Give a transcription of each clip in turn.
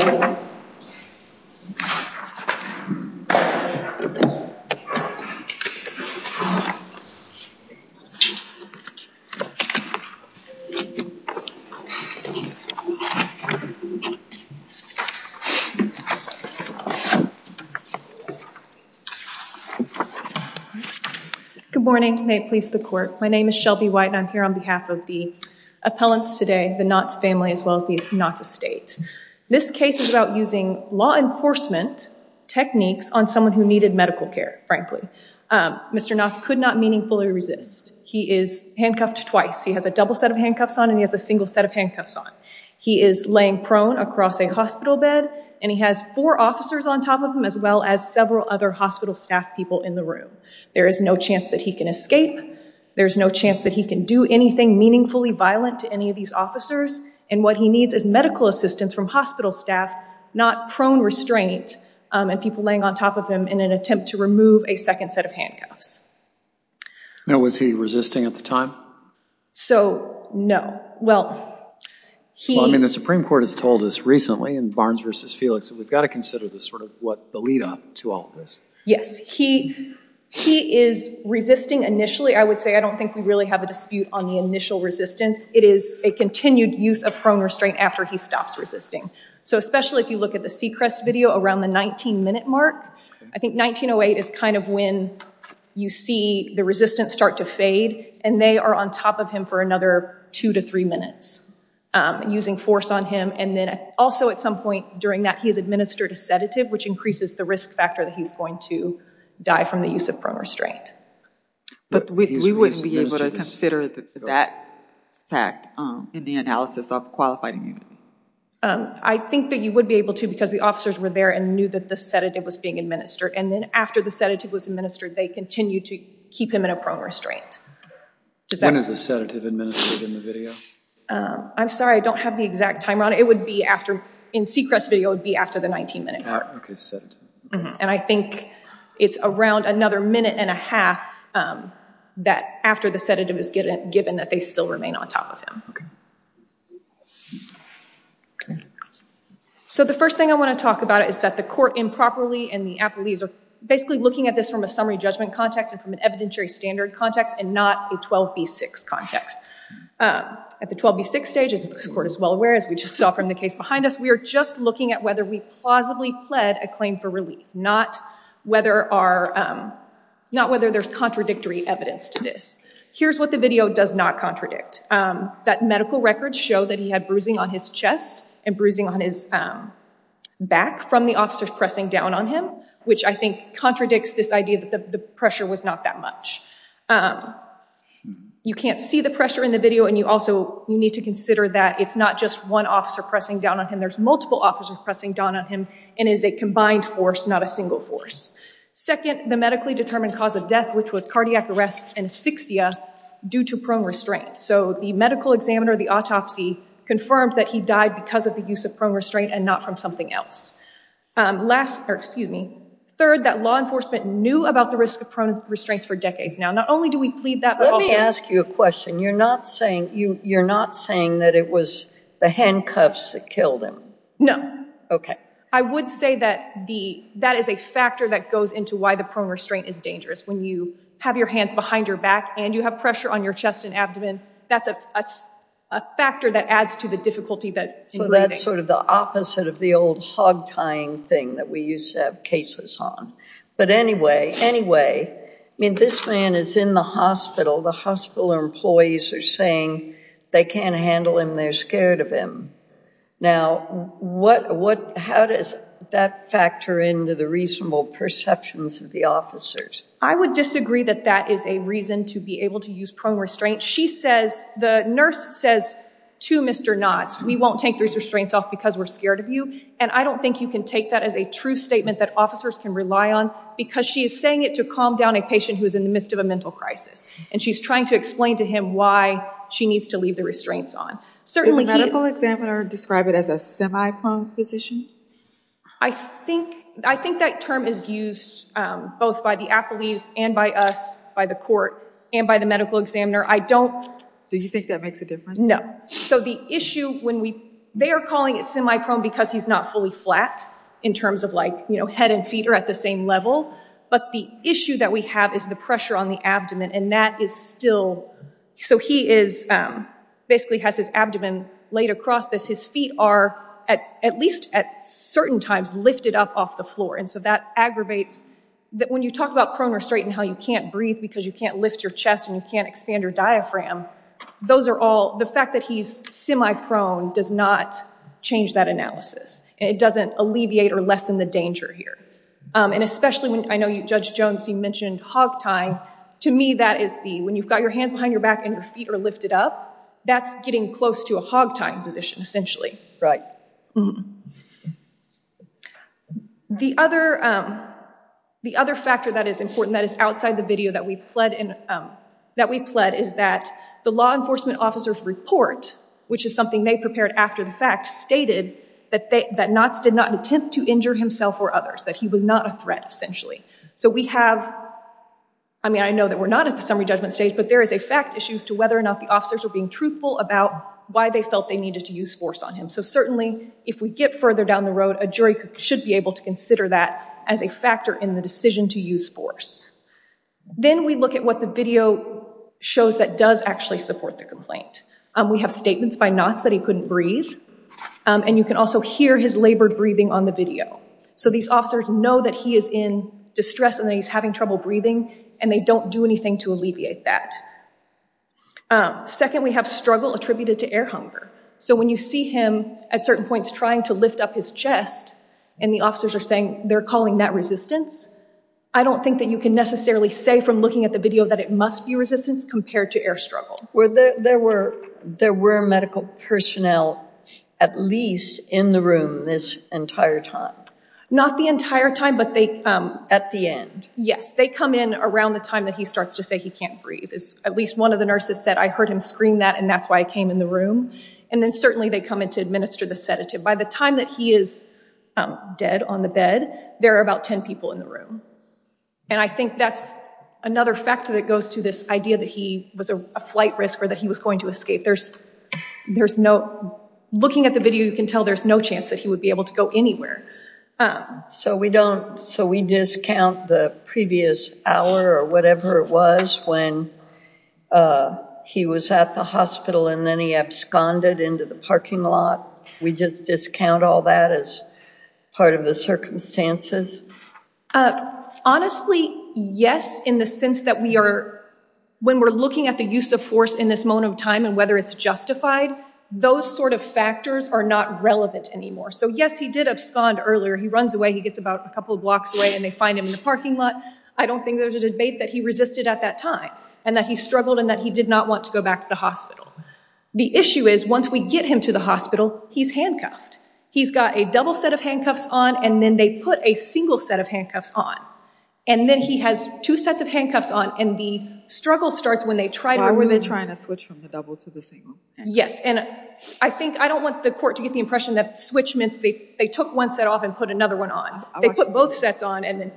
Good morning. May it please the court. My name is Shelby White and I'm here on behalf of the appellants today, the Knotts family as well as the Knotts estate. This case is about using law enforcement techniques on someone who needed medical care, frankly. Mr. Knotts could not meaningfully resist. He is handcuffed twice. He has a double set of handcuffs on and he has a single set of handcuffs on. He is laying prone across a hospital bed and he has four officers on top of him as well as several other hospital staff people in the room. There is no chance that he can escape. There's no chance that he can do anything meaningfully violent to any of these officers. And what he needs is medical assistance from hospital staff, not prone restraint and people laying on top of him in an attempt to remove a second set of handcuffs. Now, was he resisting at the time? So no. Well, I mean, the Supreme Court has told us recently in Barnes v. Felix that we've got to consider the sort of what the lead up to all of this. Yes, he is resisting initially. I would say I don't think we really have a dispute on the initial resistance. It is a continued use of prone restraint after he stops resisting. So especially if you look at the Seacrest video around the 19 minute mark, I think 1908 is kind of when you see the resistance start to fade and they are on top of him for another two to three minutes using force on him. And then also at some point during that, he's going to die from the use of prone restraint. But we wouldn't be able to consider that fact in the analysis of qualified immunity. I think that you would be able to because the officers were there and knew that the sedative was being administered. And then after the sedative was administered, they continue to keep him in a prone restraint. When is the sedative administered in the video? I'm sorry, I don't have the exact time on it. It would be after in Seacrest video would be after the 19 minute mark. And I think it's around another minute and a half that after the sedative is given that they still remain on top of him. So the first thing I want to talk about is that the court improperly and the appellees are basically looking at this from a summary judgment context and from an evidentiary standard context and not a 12b6 context. At the 12b6 stage, as the court is well aware, as we just saw from the case behind us, we are just looking at whether we plausibly pled a claim for relief, not whether there's contradictory evidence to this. Here's what the video does not contradict. That medical records show that he had bruising on his chest and bruising on his back from the officers pressing down on him, which I think contradicts this idea that the pressure was not that much. You can't see the pressure in the video and you also need to consider that it's not just one officer pressing down on him, there's multiple officers pressing down on him and is a combined force, not a single force. Second, the medically determined cause of death, which was cardiac arrest and asphyxia due to prone restraint. So the medical examiner of the autopsy confirmed that he died because of the use of prone restraint and not from something else. Third, that law enforcement knew about the risk of prone restraints for decades. Let me ask you a question. You're not saying that it was the handcuffs that killed him? No. I would say that that is a factor that goes into why the prone restraint is dangerous. When you have your hands behind your back and you have pressure on your chest and abdomen, that's a factor that adds to the difficulty. So that's sort of the opposite of the old hog tying thing that we used to have cases on. But anyway, anyway, I mean this man is in the hospital, the hospital employees are saying they can't handle him, they're scared of him. Now what, how does that factor into the reasonable perceptions of the officers? I would disagree that that is a reason to be able to use prone restraint. She says, the nurse says to Mr. Knotts, we won't take these restraints off because we're scared of you and I don't think you can take that as a true statement that officers can rely on because she is saying it to calm down a patient who is in the midst of a mental crisis and she's trying to explain to him why she needs to leave the restraints on. Did the medical examiner describe it as a semi-prone position? I think, I think that term is used both by the appellees and by us, by the court and by the medical examiner. I don't. Do you think that makes a difference? No. So the issue when we, they are calling it semi-prone because he's not fully flat in terms of like, you know, head and feet are at the same level, but the issue that we have is the pressure on the abdomen and that is still, so he is basically has his abdomen laid across this. His feet are at, at least at certain times lifted up off the floor and so that aggravates that when you talk about prone restraint and how you can't breathe because you can't lift your chest and you can't expand your diaphragm, those are all, the fact that he's semi-prone does not change that analysis and it doesn't alleviate or lessen the danger here. And especially when, I know you, Judge Jones, you mentioned hog tying. To me, that is the, when you've got your hands behind your back and your feet are lifted up, that's getting close to a hog tying position essentially. The other, the other factor that is important that is outside the video that we pled in, that we pled is that the law enforcement officer's report, which is something they prepared after the fact, stated that they, that Knotts did not attempt to injure himself or others, that he was not a threat essentially. So we have, I mean, I know that we're not at the summary judgment stage, but there is a fact issues to whether or not the officers were being truthful about why they felt they needed to use force on him. So certainly if we get further down the road, a jury should be able to consider that as a factor in the decision to use force. Then we look at what the video shows that does actually support the complaint. We have statements by Knotts that he couldn't breathe. And you can also hear his labored breathing on the video. So these officers know that he is in distress and that he's having trouble breathing and they don't do anything to alleviate that. Second, we have struggle attributed to air hunger. So when you see him at certain points trying to lift up his chest and the officers are saying they're calling that resistance, I don't think that you can necessarily say from looking at the video that it must be resistance compared to air struggle. There were medical personnel at least in the room this entire time? Not the entire time, but they... At the end? Yes. They come in around the time that he starts to say he can't breathe. At least one of the nurses said, I heard him scream that and that's why I came in the room. And then certainly they come in to administer the sedative. By the time that he is dead on the bed, there are about 10 people in the room. And I think that's another factor that goes to this idea that he was a flight risk or that he was going to escape. Looking at the video, you can tell there's no chance that he would be able to go anywhere. So we don't... So we discount the previous hour or whatever it was when he was at the hospital and then he absconded into the parking lot. We just discount all that as part of the circumstances? Honestly, yes. In the sense that when we're looking at the use of force in this moment of time and whether it's justified, those sort of factors are not relevant anymore. So yes, he did abscond earlier. He runs away. He gets about a couple of blocks away and they find him in the parking lot. I don't think there's a debate that he resisted at that time and that he struggled and that he did not want to go back to the hospital. The issue is once we get him to the hospital, he's handcuffed. He's got a double set of handcuffs on and then they put a single set of handcuffs on. And then he has two sets of handcuffs on and the struggle starts when they try to... Why were they trying to switch from the double to the single? Yes. And I think... I don't want the court to get the impression that switch meant they took one set off and put another one on. They put both sets on and then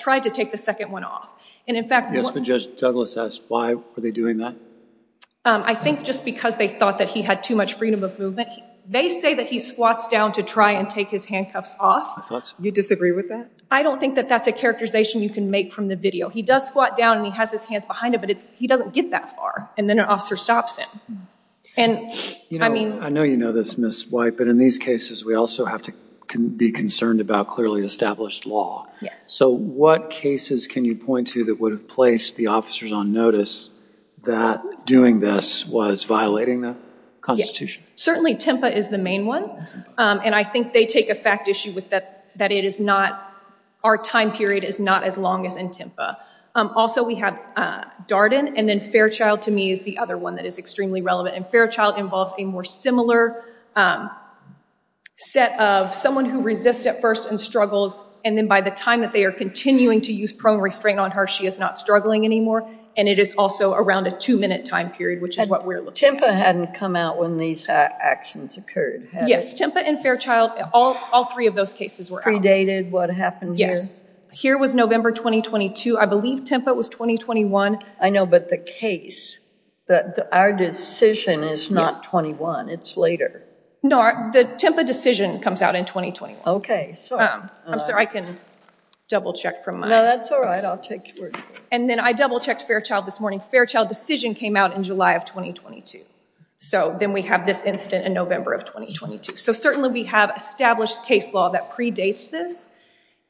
tried to take the second one off. And in fact... Yes, but Judge Douglas asked, why were they doing that? I think just because they thought that he had too much freedom of movement. They say that he squats down to try and take his handcuffs off. You disagree with that? I don't think that that's a characterization you can make from the video. He does squat down and he has his hands behind him, but he doesn't get that far. And then an officer stops him. And I mean... I know you know this, Ms. White, but in these cases, we also have to be concerned about clearly established law. Yes. So what cases can you point to that would have placed the officers on notice that doing this was violating the Constitution? Certainly, Tempa is the main one. And I think they take a fact issue with that it is not... Our time period is not as long as in Tempa. Also we have Darden and then Fairchild to me is the other one that is extremely relevant. And Fairchild involves a more similar set of someone who resists at first and struggles and then by the time that they are continuing to use prone restraint on her, she is not struggling anymore. And it is also around a two minute time period, which is what we're looking at. Tempa hadn't come out when these actions occurred, had it? Yes. Tempa and Fairchild, all three of those cases were out. Predated? What happened here? Yes. Here was November 2022. I believe Tempa was 2021. I know. But the case, our decision is not 21. It's later. No. The Tempa decision comes out in 2021. Okay. I'm sorry. I can double check from my... No, that's all right. I'll take your word for it. And then I double checked Fairchild this morning. Fairchild decision came out in July of 2022. So then we have this incident in November of 2022. So certainly we have established case law that predates this.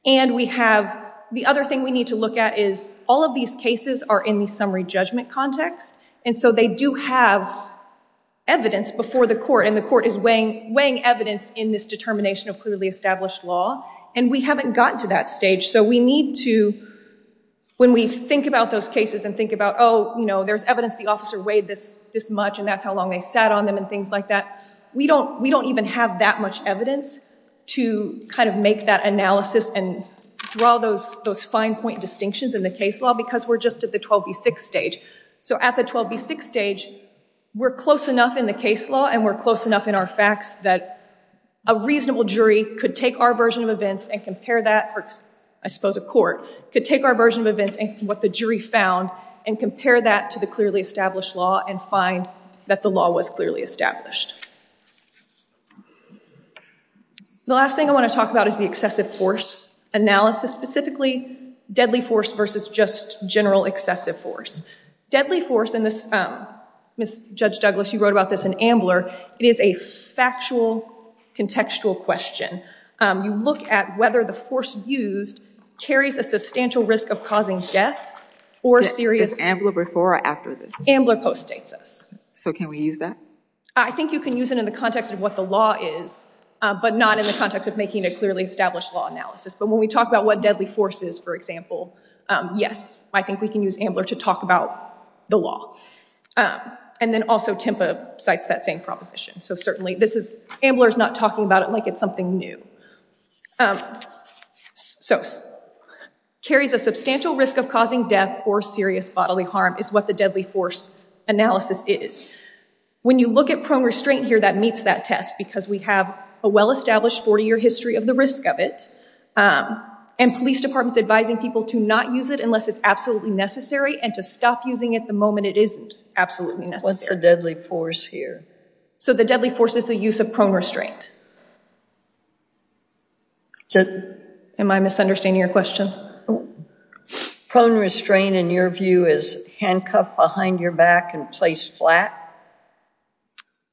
And we have the other thing we need to look at is all of these cases are in the summary judgment context. And so they do have evidence before the court and the court is weighing evidence in this determination of clearly established law. And we haven't gotten to that stage. So we need to, when we think about those cases and think about, oh, you know, there's evidence the officer weighed this much and that's how long they sat on them and things like that. We don't even have that much evidence to kind of make that analysis and draw those fine point distinctions in the case law because we're just at the 12B6 stage. So at the 12B6 stage, we're close enough in the case law and we're close enough in our facts that a reasonable jury could take our version of events and compare that, I suppose a court, could take our version of events and what the jury found and compare that to the clearly established law and find that the law was clearly established. The last thing I want to talk about is the excessive force analysis, specifically deadly force versus just general excessive force. Deadly force, and this, Ms. Judge Douglas, you wrote about this in Ambler, it is a factual contextual question. You look at whether the force used carries a substantial risk of causing death or serious Is Ambler before or after this? Ambler postdates us. So can we use that? I think you can use it in the context of what the law is, but not in the context of making a clearly established law analysis. But when we talk about what deadly force is, for example, yes, I think we can use Ambler to talk about the law. And then also Tempa cites that same proposition. So certainly this is, Ambler's not talking about it like it's something new. So carries a substantial risk of causing death or serious bodily harm is what the deadly force analysis is. When you look at prone restraint here, that meets that test because we have a well-established 40-year history of the risk of it and police departments advising people to not use it unless it's absolutely necessary and to stop using it the moment it isn't absolutely necessary. What's the deadly force here? So the deadly force is the use of prone restraint. Am I misunderstanding your question? Prone restraint in your view is handcuffed behind your back and placed flat?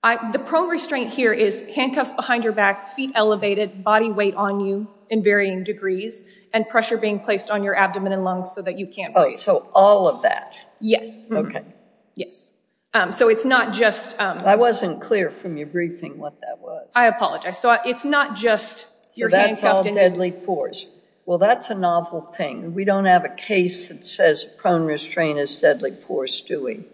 The prone restraint here is handcuffs behind your back, feet elevated, body weight on you in varying degrees, and pressure being placed on your abdomen and lungs so that you can't breathe. So all of that? Yes. Okay. Yes. So it's not just... I wasn't clear from your briefing what that was. I apologize. So it's not just your handcuffed... So that's all deadly force. Well, that's a novel thing. We don't have a case that says prone restraint is deadly force, do we?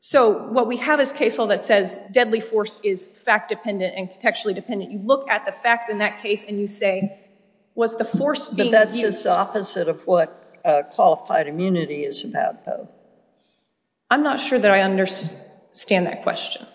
So what we have is a case law that says deadly force is fact-dependent and contextually dependent. You look at the facts in that case and you say, was the force being used... But that's just the opposite of what qualified immunity is about, though. I'm not sure that I understand that question.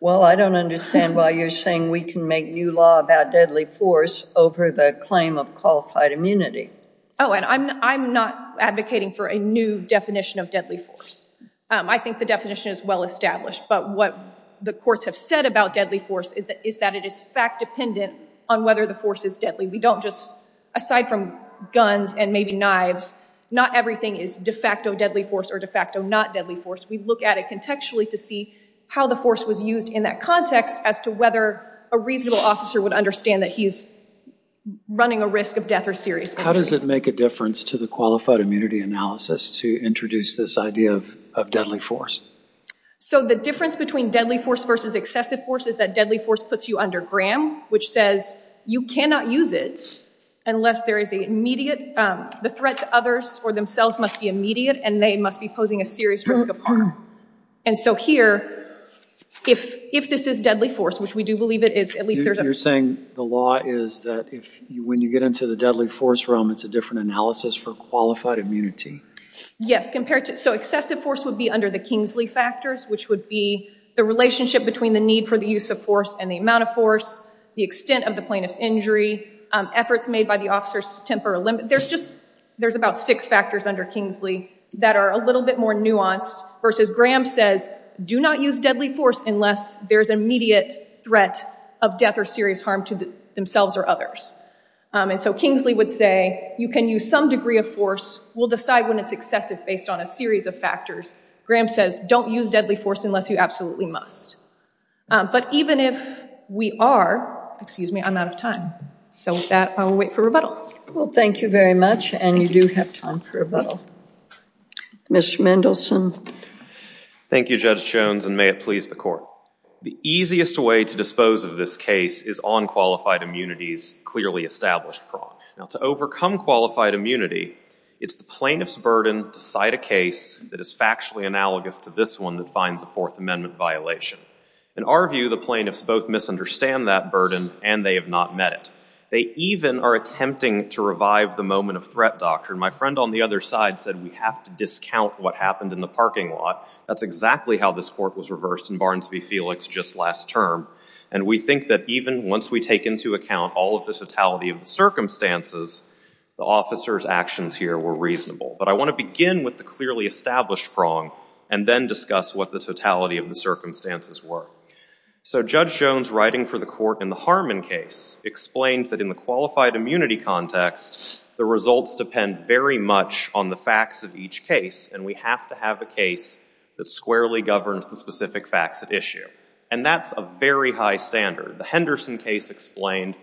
Well, I don't understand why you're saying we can make new law about deadly force over the claim of qualified immunity. Oh, and I'm not advocating for a new definition of deadly force. I think the definition is well-established, but what the courts have said about deadly force is that it is fact-dependent on whether the force is deadly. We don't just... Aside from guns and maybe knives, not everything is de facto deadly force or de facto not deadly force. We look at it contextually to see how the force was used in that context as to whether a reasonable officer would understand that he's running a risk of death or serious injury. How does it make a difference to the qualified immunity analysis to introduce this idea of deadly force? So the difference between deadly force versus excessive force is that deadly force puts you under Graham, which says you cannot use it unless there is an immediate... The threat to others or themselves must be immediate and they must be posing a serious risk of harm. And so here, if this is deadly force, which we do believe it is, at least there's a... You're saying the law is that when you get into the deadly force realm, it's a different analysis for qualified immunity? Yes. So excessive force would be under the Kingsley factors, which would be the relationship between the need for the use of force and the amount of force, the extent of the plaintiff's injury, efforts made by the officers to temper a limit. There's about six factors under Kingsley that are a little bit more nuanced versus Graham says do not use deadly force unless there's an immediate threat of death or serious harm to themselves or others. And so Kingsley would say you can use some degree of force, we'll decide when it's excessive based on a series of factors. Graham says don't use deadly force unless you absolutely must. But even if we are, excuse me, I'm out of time. So with that, I will wait for rebuttal. Well, thank you very much and you do have time for rebuttal. Mr. Mendelson. Thank you, Judge Jones, and may it please the court. The easiest way to dispose of this case is on qualified immunity's clearly established prong. Now, to overcome qualified immunity, it's the plaintiff's burden to cite a case that is factually analogous to this one that finds a Fourth Amendment violation. In our view, the plaintiffs both misunderstand that burden and they have not met it. They even are attempting to revive the moment of threat doctrine. My friend on the other side said we have to discount what happened in the parking lot. That's exactly how this court was reversed in Barnes v. Felix just last term. And we think that even once we take into account all of the totality of the circumstances, the officer's actions here were reasonable. But I want to begin with the clearly established prong and then discuss what the totality of the circumstances were. So Judge Jones, writing for the court in the Harmon case, explained that in the qualified immunity context, the results depend very much on the facts of each case. And we have to have a case that squarely governs the specific facts at issue. And that's a very high standard. The Henderson case explained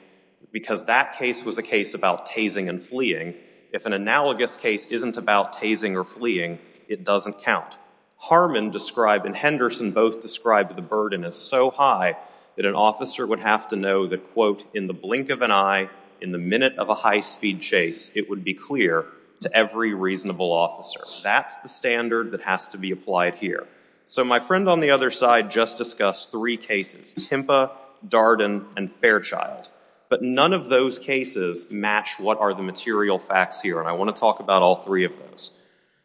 because that case was a case about tasing and fleeing. If an analogous case isn't about tasing or fleeing, it doesn't count. Harmon described and Henderson both described the burden as so high that an officer would have to know that, quote, in the blink of an eye, in the minute of a high-speed chase, it would be clear to every reasonable officer. That's the standard that has to be applied here. So my friend on the other side just discussed three cases, Timpa, Darden, and Fairchild. But none of those cases match what are the material facts here, and I want to talk about all three of those.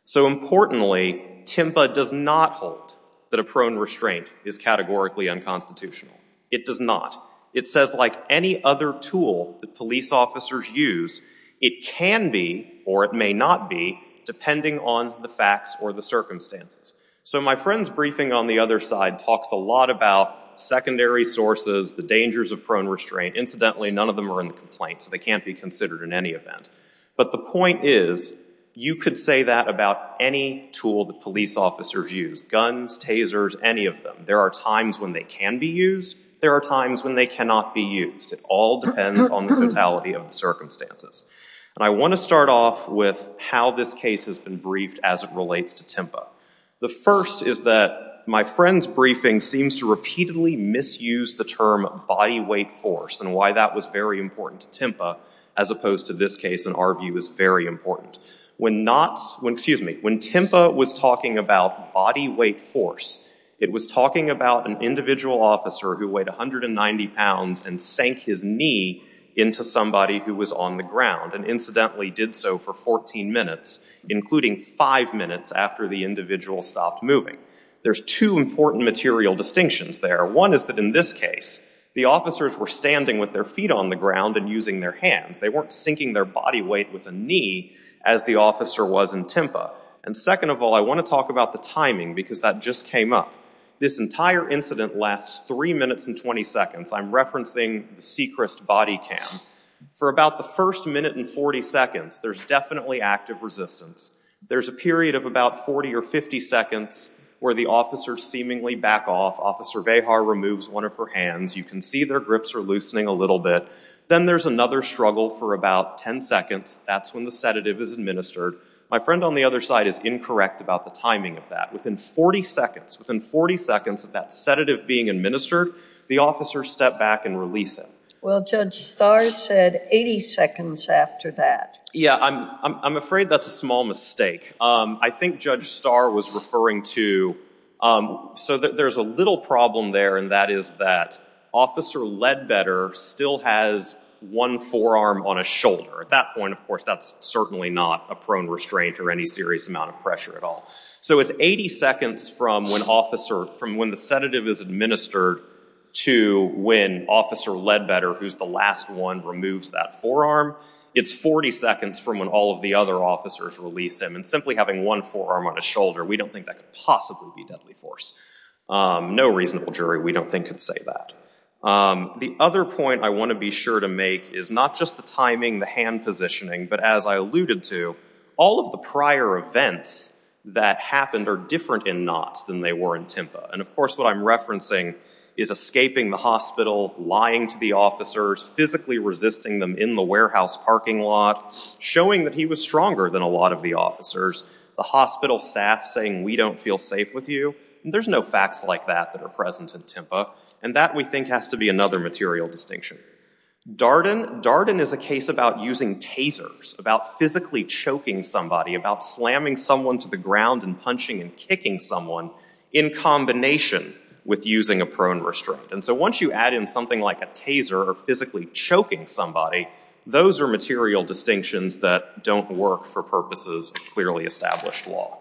So importantly, Timpa does not hold that a prone restraint is categorically unconstitutional. It does not. It says like any other tool that police officers use, it can be or it may not be depending on the facts or the circumstances. So my friend's briefing on the other side talks a lot about secondary sources, the dangers of prone restraint. Incidentally, none of them are in the complaint, so they can't be considered in any event. But the point is, you could say that about any tool that police officers use, guns, tasers, any of them. There are times when they can be used. There are times when they cannot be used. It all depends on the totality of the circumstances. And I want to start off with how this case has been briefed as it relates to Timpa. The first is that my friend's briefing seems to repeatedly misuse the term body weight force and why that was very important to Timpa, as opposed to this case in our view is very important. When not, when, excuse me, when Timpa was talking about body weight force, it was talking about an individual officer who weighed 190 pounds and sank his knee into somebody who was on the ground and incidentally did so for 14 minutes, including five minutes after the individual stopped moving. There's two important material distinctions there. One is that in this case, the officers were standing with their feet on the ground and using their hands. They weren't sinking their body weight with a knee as the officer was in Timpa. And second of all, I want to talk about the timing because that just came up. This entire incident lasts three minutes and 20 seconds. I'm referencing the Sechrist body cam. For about the first minute and 40 seconds, there's definitely active resistance. There's a period of about 40 or 50 seconds where the officers seemingly back off. Officer Vejar removes one of her hands. You can see their grips are loosening a little bit. Then there's another struggle for about 10 seconds. That's when the sedative is administered. My friend on the other side is incorrect about the timing of that. Within 40 seconds of that sedative being administered, the officer stepped back and released it. Well, Judge Starr said 80 seconds after that. Yeah, I'm afraid that's a small mistake. I think Judge Starr was referring to—so there's a little problem there, and that is that Officer Ledbetter still has one forearm on a shoulder. At that point, of course, that's certainly not a prone restraint or any serious amount of pressure at all. So it's 80 seconds from when the sedative is administered to when Officer Ledbetter, who's the last one, removes that forearm. It's 40 seconds from when all of the other officers release him, and simply having one forearm on a shoulder, we don't think that could possibly be deadly force. No reasonable jury, we don't think, could say that. The other point I want to be sure to make is not just the timing, the hand positioning, but as I alluded to, all of the prior events that happened are different in Knotts than they were in Timpa. And of course, what I'm referencing is escaping the hospital, lying to the officers, physically resisting them in the warehouse parking lot, showing that he was stronger than a lot of the officers, the hospital staff saying, we don't feel safe with you. There's no facts like that that are present in Timpa, and that, we think, has to be another material distinction. Darden, Darden is a case about using tasers, about physically choking somebody, about slamming someone to the ground and punching and kicking someone, in combination with using a prone restraint. And so once you add in something like a taser, or physically choking somebody, those are material distinctions that don't work for purposes of clearly established law.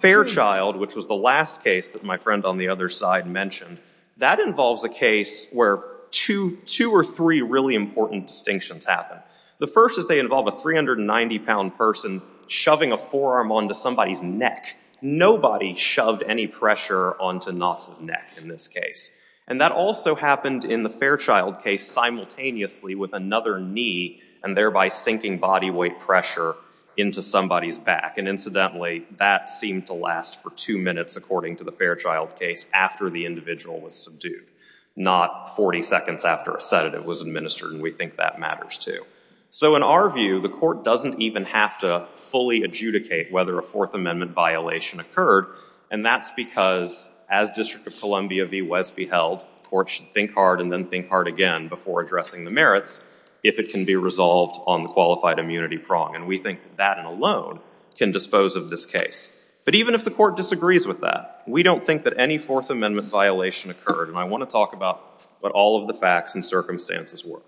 Fairchild, which was the last case that my friend on the other side mentioned, that involves a case where two or three really important distinctions happen. The first is they involve a 390-pound person shoving a forearm onto somebody's neck. Nobody shoved any pressure onto Knotts' neck in this case. And that also happened in the Fairchild case simultaneously with another knee, and thereby sinking body weight pressure into somebody's back. And incidentally, that seemed to last for two minutes, according to the Fairchild case, after the individual was subdued, not 40 seconds after a sedative was administered, and we think that matters, too. So in our view, the court doesn't even have to fully adjudicate whether a Fourth Amendment violation occurred. And that's because, as District of Columbia v. Wesby held, courts should think hard and then think hard again before addressing the merits if it can be resolved on the qualified immunity prong. And we think that that alone can dispose of this case. But even if the court disagrees with that, we don't think that any Fourth Amendment violation occurred. And I want to talk about what all of the facts and circumstances were.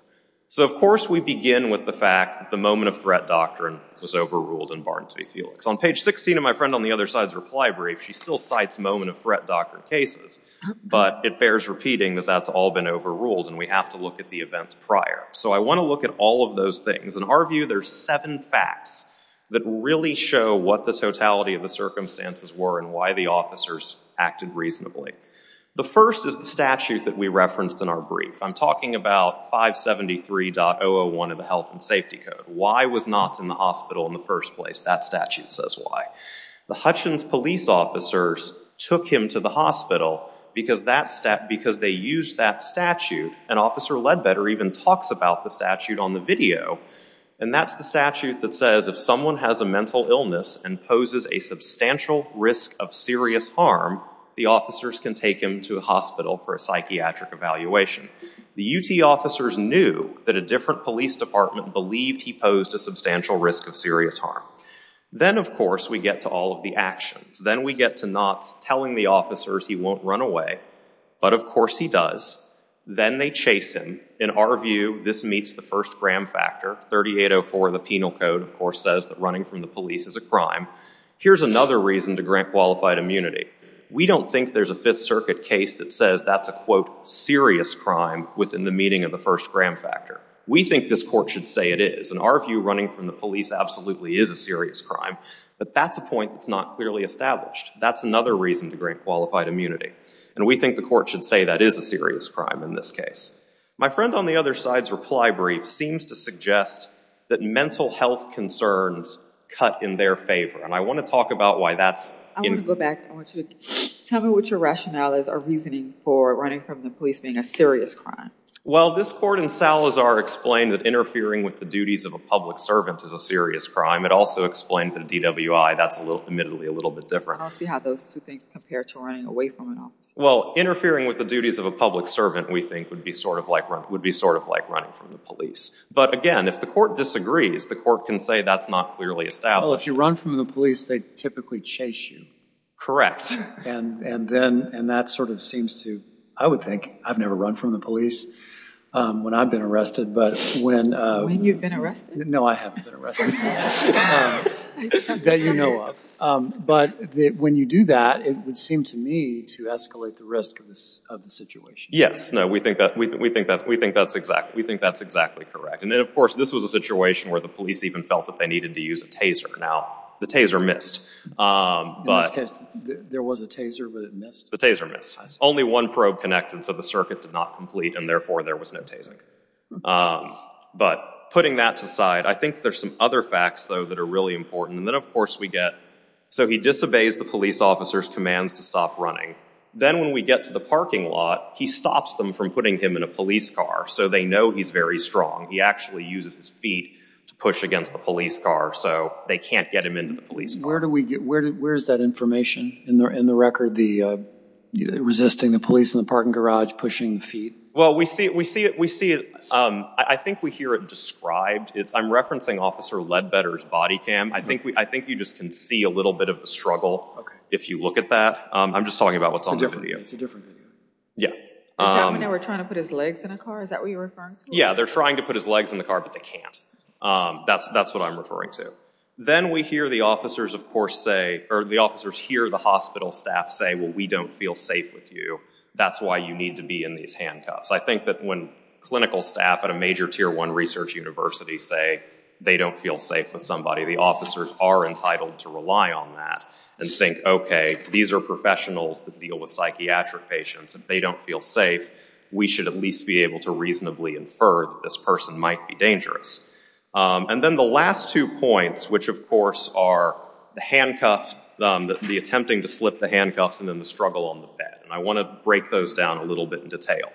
So of course, we begin with the fact that the moment of threat doctrine was overruled in Barnes v. Felix. On page 16 of my friend on the other side's reply brief, she still cites moment of threat doctrine cases. But it bears repeating that that's all been overruled, and we have to look at the events prior. So I want to look at all of those things. In our view, there's seven facts that really show what the totality of the circumstances were and why the officers acted reasonably. The first is the statute that we referenced in our brief. I'm talking about 573.001 of the Health and Safety Code. Why was Knott's in the hospital in the first place? That statute says why. The Hutchins police officers took him to the hospital because they used that statute. And Officer Ledbetter even talks about the statute on the video. And that's the statute that says if someone has a mental illness and poses a substantial risk of serious harm, the officers can take him to a hospital for a psychiatric evaluation. The UT officers knew that a different police department believed he posed a substantial risk of serious harm. Then of course, we get to all of the actions. Then we get to Knott's telling the officers he won't run away. But of course he does. Then they chase him. In our view, this meets the first Graham factor. 3804 of the Penal Code, of course, says that running from the police is a crime. Here's another reason to grant qualified immunity. We don't think there's a Fifth Circuit case that says that's a, quote, serious crime within the meeting of the first Graham factor. We think this court should say it is. In our view, running from the police absolutely is a serious crime. But that's a point that's not clearly established. That's another reason to grant qualified immunity. And we think the court should say that is a serious crime in this case. My friend on the other side's reply brief seems to suggest that mental health concerns cut in their favor. And I want to talk about why that's in. I want to go back. I want you to tell me what your rationales or reasoning for running from the police being a serious crime. Well, this court in Salazar explained that interfering with the duties of a public servant is a serious crime. It also explained that in DWI, that's admittedly a little bit different. And I'll see how those two things compare to running away from an officer. Well, interfering with the duties of a public servant, we think, would be sort of like running from the police. But again, if the court disagrees, the court can say that's not clearly established. Well, if you run from the police, they typically chase you. Correct. And that sort of seems to, I would think, I've never run from the police when I've been arrested. But when you've been arrested? No, I haven't been arrested. That you know of. But when you do that, it would seem to me to escalate the risk of the situation. Yes, no, we think that's exactly correct. And then, of course, this was a situation where the police even felt that they needed to use a taser. Now, the taser missed. In this case, there was a taser, but it missed? The taser missed. Only one probe connected, so the circuit did not complete. And therefore, there was no tasing. But putting that to the side, I think there's some other facts, though, that are really important. And then, of course, we get, so he disobeys the police officer's commands to stop running. Then, when we get to the parking lot, he stops them from putting him in a police car, so they know he's very strong. He actually uses his feet to push against the police car, so they can't get him into the police car. Where is that information in the record, the resisting the police in the parking garage, pushing feet? Well, we see it. I think we hear it described. I'm referencing Officer Ledbetter's body cam. I think you just can see a little bit of the struggle, if you look at that. I'm just talking about what's on the video. It's a different video. Yeah. Is that when they were trying to put his legs in a car? Is that what you're referring to? Yeah, they're trying to put his legs in the car, but they can't. That's what I'm referring to. Then, we hear the officers, of course, say, or the officers hear the hospital staff say, well, we don't feel safe with you. That's why you need to be in these handcuffs. I think that when clinical staff at a major tier one research university say they don't feel safe with somebody, the officers are entitled to rely on that and think, OK, these are professionals that deal with psychiatric patients. If they don't feel safe, we should at least be able to reasonably infer that this person might be dangerous. And then the last two points, which, of course, are the attempting to slip the handcuffs and then the struggle on the bed. And I want to break those down a little bit in detail.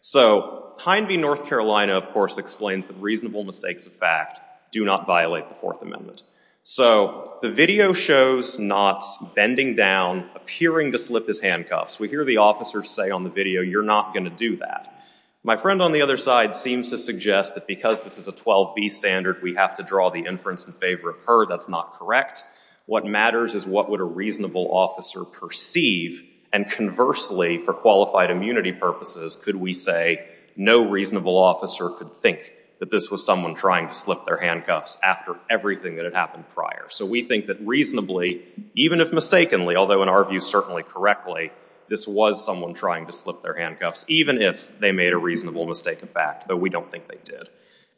So Pine View, North Carolina, of course, explains that reasonable mistakes of fact do not violate the Fourth Amendment. So the video shows Knott's bending down, appearing to slip his handcuffs. We hear the officers say on the video, you're not going to do that. My friend on the other side seems to suggest that because this is a 12B standard, we have to draw the inference in favor of her. That's not correct. What matters is what would a reasonable officer perceive. And conversely, for qualified immunity purposes, could we say no reasonable officer could think that this was someone trying to slip their handcuffs after everything that had happened prior? So we think that reasonably, even if mistakenly, although in our view certainly correctly, this was someone trying to slip their handcuffs, even if they made a reasonable mistake of fact, though we don't think they did.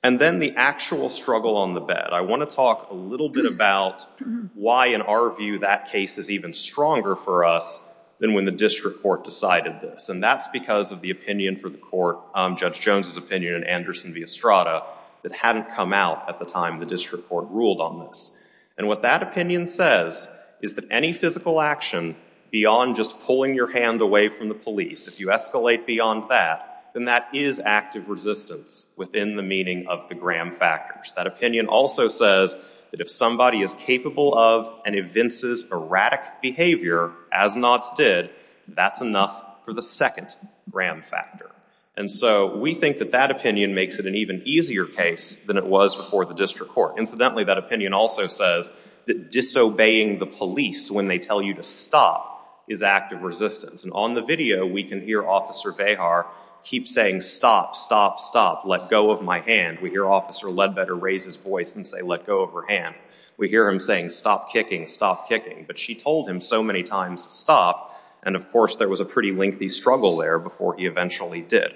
And then the actual struggle on the bed. I want to talk a little bit about why, in our view, that case is even stronger for us than when the district court decided this. And that's because of the opinion for the court, Judge Anderson v. Estrada, that hadn't come out at the time the district court ruled on this. And what that opinion says is that any physical action beyond just pulling your hand away from the police, if you escalate beyond that, then that is active resistance within the meaning of the Graham factors. That opinion also says that if somebody is capable of and evinces erratic behavior, as Knott's did, that's enough for the second Graham factor. And so we think that that opinion makes it an even easier case than it was before the district court. Incidentally, that opinion also says that disobeying the police when they tell you to stop is active resistance. And on the video, we can hear Officer Behar keep saying, stop, stop, stop, let go of my hand. We hear Officer Ledbetter raise his voice and say, let go of her hand. We hear him saying, stop kicking, stop kicking. But she told him so many times to stop. And of course, there was a pretty lengthy struggle there before he eventually did.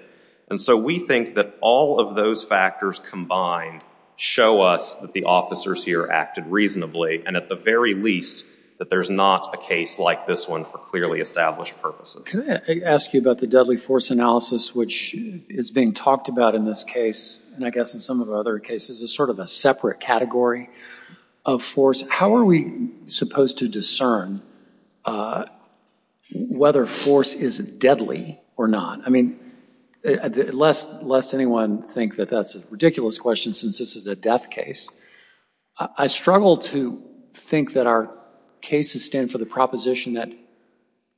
And so we think that all of those factors combined show us that the officers here acted reasonably, and at the very least, that there's not a case like this one for clearly established purposes. Can I ask you about the deadly force analysis, which is being talked about in this case, and I guess in some of our other cases, as sort of a separate category of force? How are we supposed to discern whether force is deadly or not? I mean, lest anyone think that that's a ridiculous question since this is a death case, I struggle to think that our cases stand for the proposition that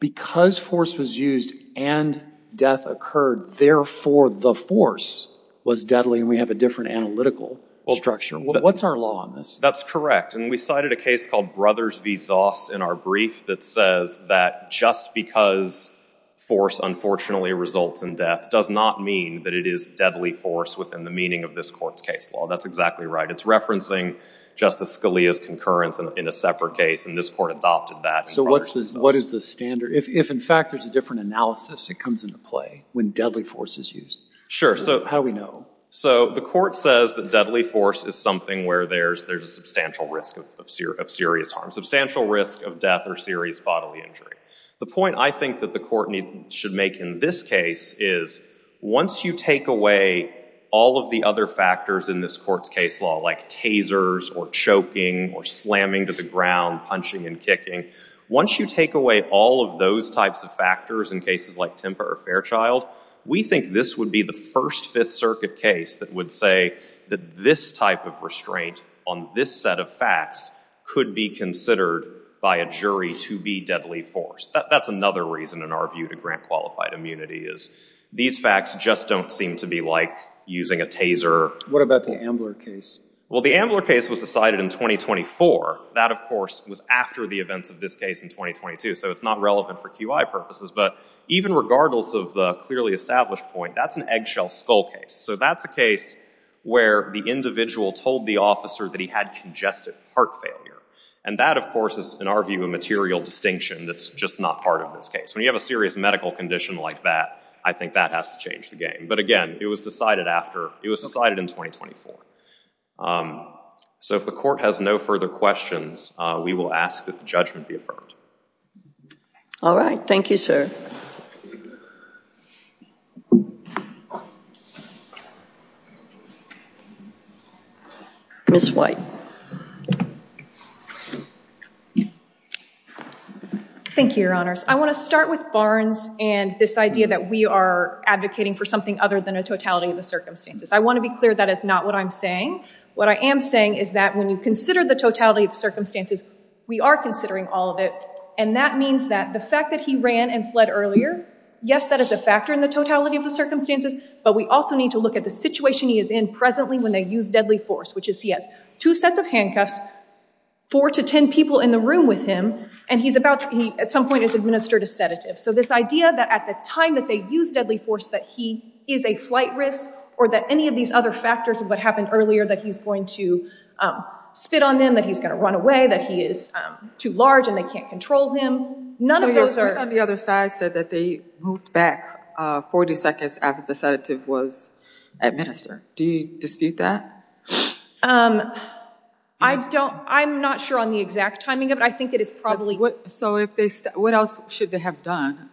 because force was used and death occurred, therefore the force was deadly, and we have a different analytical structure. What's our law on this? That's correct. And we cited a case called Brothers v. Zoss in our brief that says that just because force unfortunately results in death does not mean that it is deadly force within the meaning of this court's case law. That's exactly right. It's referencing Justice Scalia's concurrence in a separate case, and this court adopted that. So what is the standard? If, in fact, there's a different analysis that comes into play when deadly force is used, how do we know? So the court says that deadly force is something where there's a substantial risk of serious harm, substantial risk of death or serious bodily injury. The point I think that the court should make in this case is once you take away all of the other factors in this court's case law, like tasers or choking or slamming to the ground, punching and kicking, once you take away all of those types of factors in cases like Tempa or Fairchild, we think this would be the First Fifth Circuit case that would say that this type of restraint on this set of facts could be considered by a jury to be deadly force. That's another reason, in our view, to grant qualified immunity is these facts just don't seem to be like using a taser. What about the Ambler case? Well, the Ambler case was decided in 2024. That, of course, was after the events of this case in 2022, so it's not relevant for QI purposes. But even regardless of the clearly established point, that's an eggshell skull case. So that's a case where the individual told the officer that he had congestive heart failure. And that, of course, is, in our view, a material distinction that's just not part of this case. When you have a serious medical condition like that, I think that has to change the game. But again, it was decided in 2024. So if the court has no further questions, we will ask that the judgment be affirmed. All right. Thank you, sir. Ms. White. Thank you, Your Honors. I want to start with Barnes and this idea that we are advocating for something other than a totality of the circumstances. I want to be clear that is not what I'm saying. What I am saying is that when you consider the totality of the circumstances, we are considering all of it. And that means that the fact that he ran and fled earlier, yes, that is a factor in the totality of the circumstances. But we also need to look at the fact that the situation he is in presently when they use deadly force, which is he has two sets of handcuffs, four to 10 people in the room with him, and he at some point has administered a sedative. So this idea that at the time that they use deadly force that he is a flight risk or that any of these other factors of what happened earlier, that he's going to spit on them, that he's going to run away, that he is too large and they can't control him, none of those are. So your proof on the other side said that they moved back 40 seconds after the sedative was administered. Do you dispute that? I'm not sure on the exact timing of it. I think it is probably. So what else should they have done?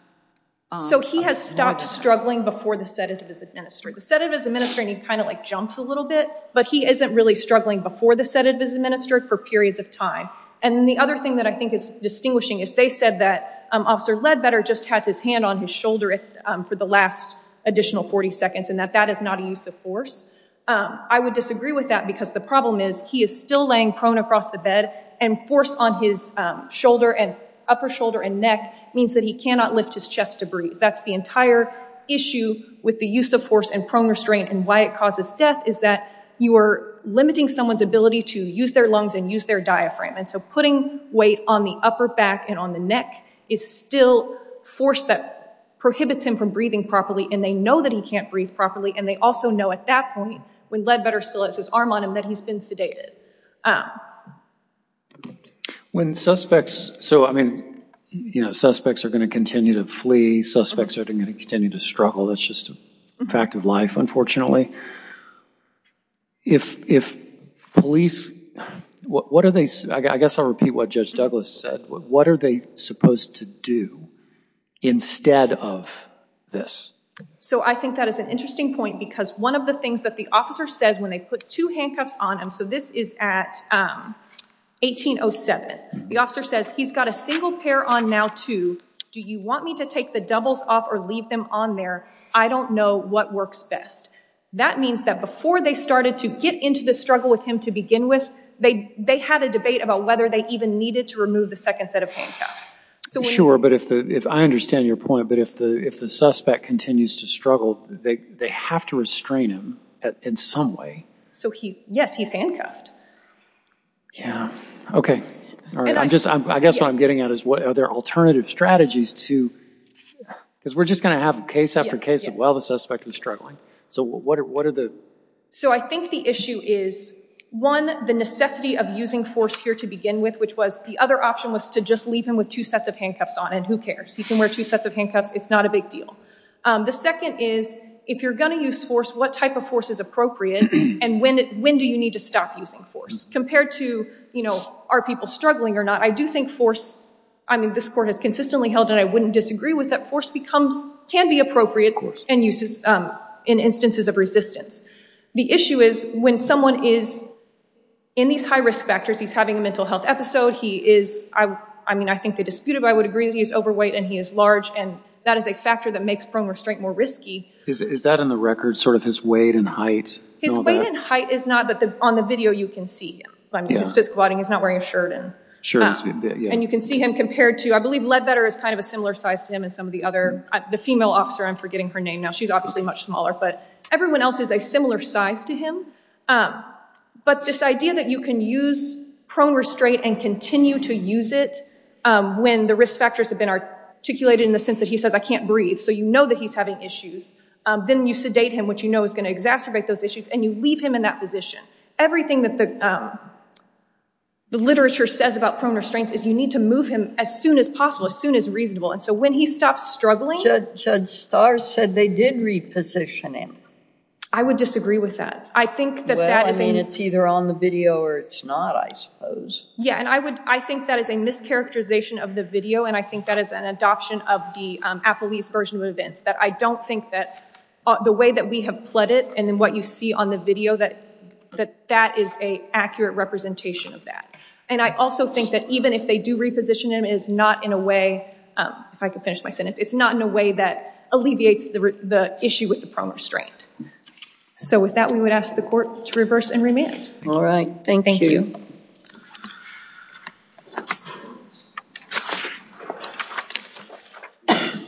So he has stopped struggling before the sedative is administered. The sedative is administered and he kind of jumps a little bit. But he isn't really struggling before the sedative is administered for periods of time. And then the other thing that I think is distinguishing is they said that Officer Ledbetter just has his hand on his shoulder for the last additional 40 seconds and that that is not a use of force. I would disagree with that because the problem is he is still laying prone across the bed and force on his shoulder and upper shoulder and neck means that he cannot lift his chest to breathe. That's the entire issue with the use of force and prone restraint and why it causes death is that you are limiting someone's ability to use their lungs and use their diaphragm. And so putting weight on the upper back and on the neck is still force that prohibits him from breathing properly. And they know that he can't breathe properly and they also know at that point when Ledbetter still has his arm on him that he's been sedated. When suspects, so I mean, suspects are going to continue to flee. Suspects are going to continue to struggle. That's just a fact of life, unfortunately. If police, what are they, I guess I'll repeat what Judge Douglas said, what are they supposed to do instead of this? So I think that is an interesting point because one of the things that the officer says when they put two handcuffs on him, so this is at 1807, the officer says he's got a single pair on now too. Do you want me to take the doubles off or leave them on there? I don't know what works best. That means that before they started to get into the struggle with him to begin with, they had a debate about whether they even needed to remove the second set of handcuffs. Sure, but if I understand your point, but if the suspect continues to struggle, they have to restrain him in some way. So yes, he's handcuffed. Yeah, OK. I guess what I'm getting at is are there alternative strategies to, because we're just going to have case after case of, well, the suspect was struggling. So what are the? So I think the issue is, one, the necessity of using force here to begin with, which was the other option was to just leave him with two sets of handcuffs on, and who cares? He can wear two sets of handcuffs. It's not a big deal. The second is, if you're going to use force, what type of force is appropriate, and when do you need to stop using force? Compared to are people struggling or not, I do think force, I mean, this court has consistently held, and I wouldn't disagree with it, force can be appropriate in instances of resistance. The issue is when someone is in these high risk factors, he's having a mental health episode, he is, I mean, I think they disputed, but I would agree that he's overweight and he is large, and that is a factor that makes prone restraint more risky. Is that in the record, sort of his weight and height? His weight and height is not, but on the video you can see him. I mean, his physical body, he's not wearing a shirt. And you can see him compared to, I believe Ledbetter is kind of a similar size to him and some of the other, the female officer, I'm forgetting her name now. She's obviously much smaller, but everyone else is a similar size to him. But this idea that you can use prone restraint and continue to use it when the risk factors have been articulated in the sense that he says I can't breathe, so you know that he's having issues, then you sedate him, which you know is going to exacerbate those issues, and you leave him in that position. Everything that the literature says about prone restraints is you need to move him as soon as possible, as soon as reasonable. And so when he stops struggling. Judge Starr said they did reposition him. I would disagree with that. Well, I mean, it's either on the video or it's not, I suppose. Yeah, and I think that is a mischaracterization of the video, and I think that is an adoption of the Appelese version of events, that I don't think that the way that we have pled it and then what you see on the video, that that is a accurate representation of that. And I also think that even if they do reposition him, it is not in a way, if I could finish my sentence, it's not in a way that alleviates the issue with the prone restraint. So with that, we would ask the court to reverse and remand. All right. Thank you. Thank you.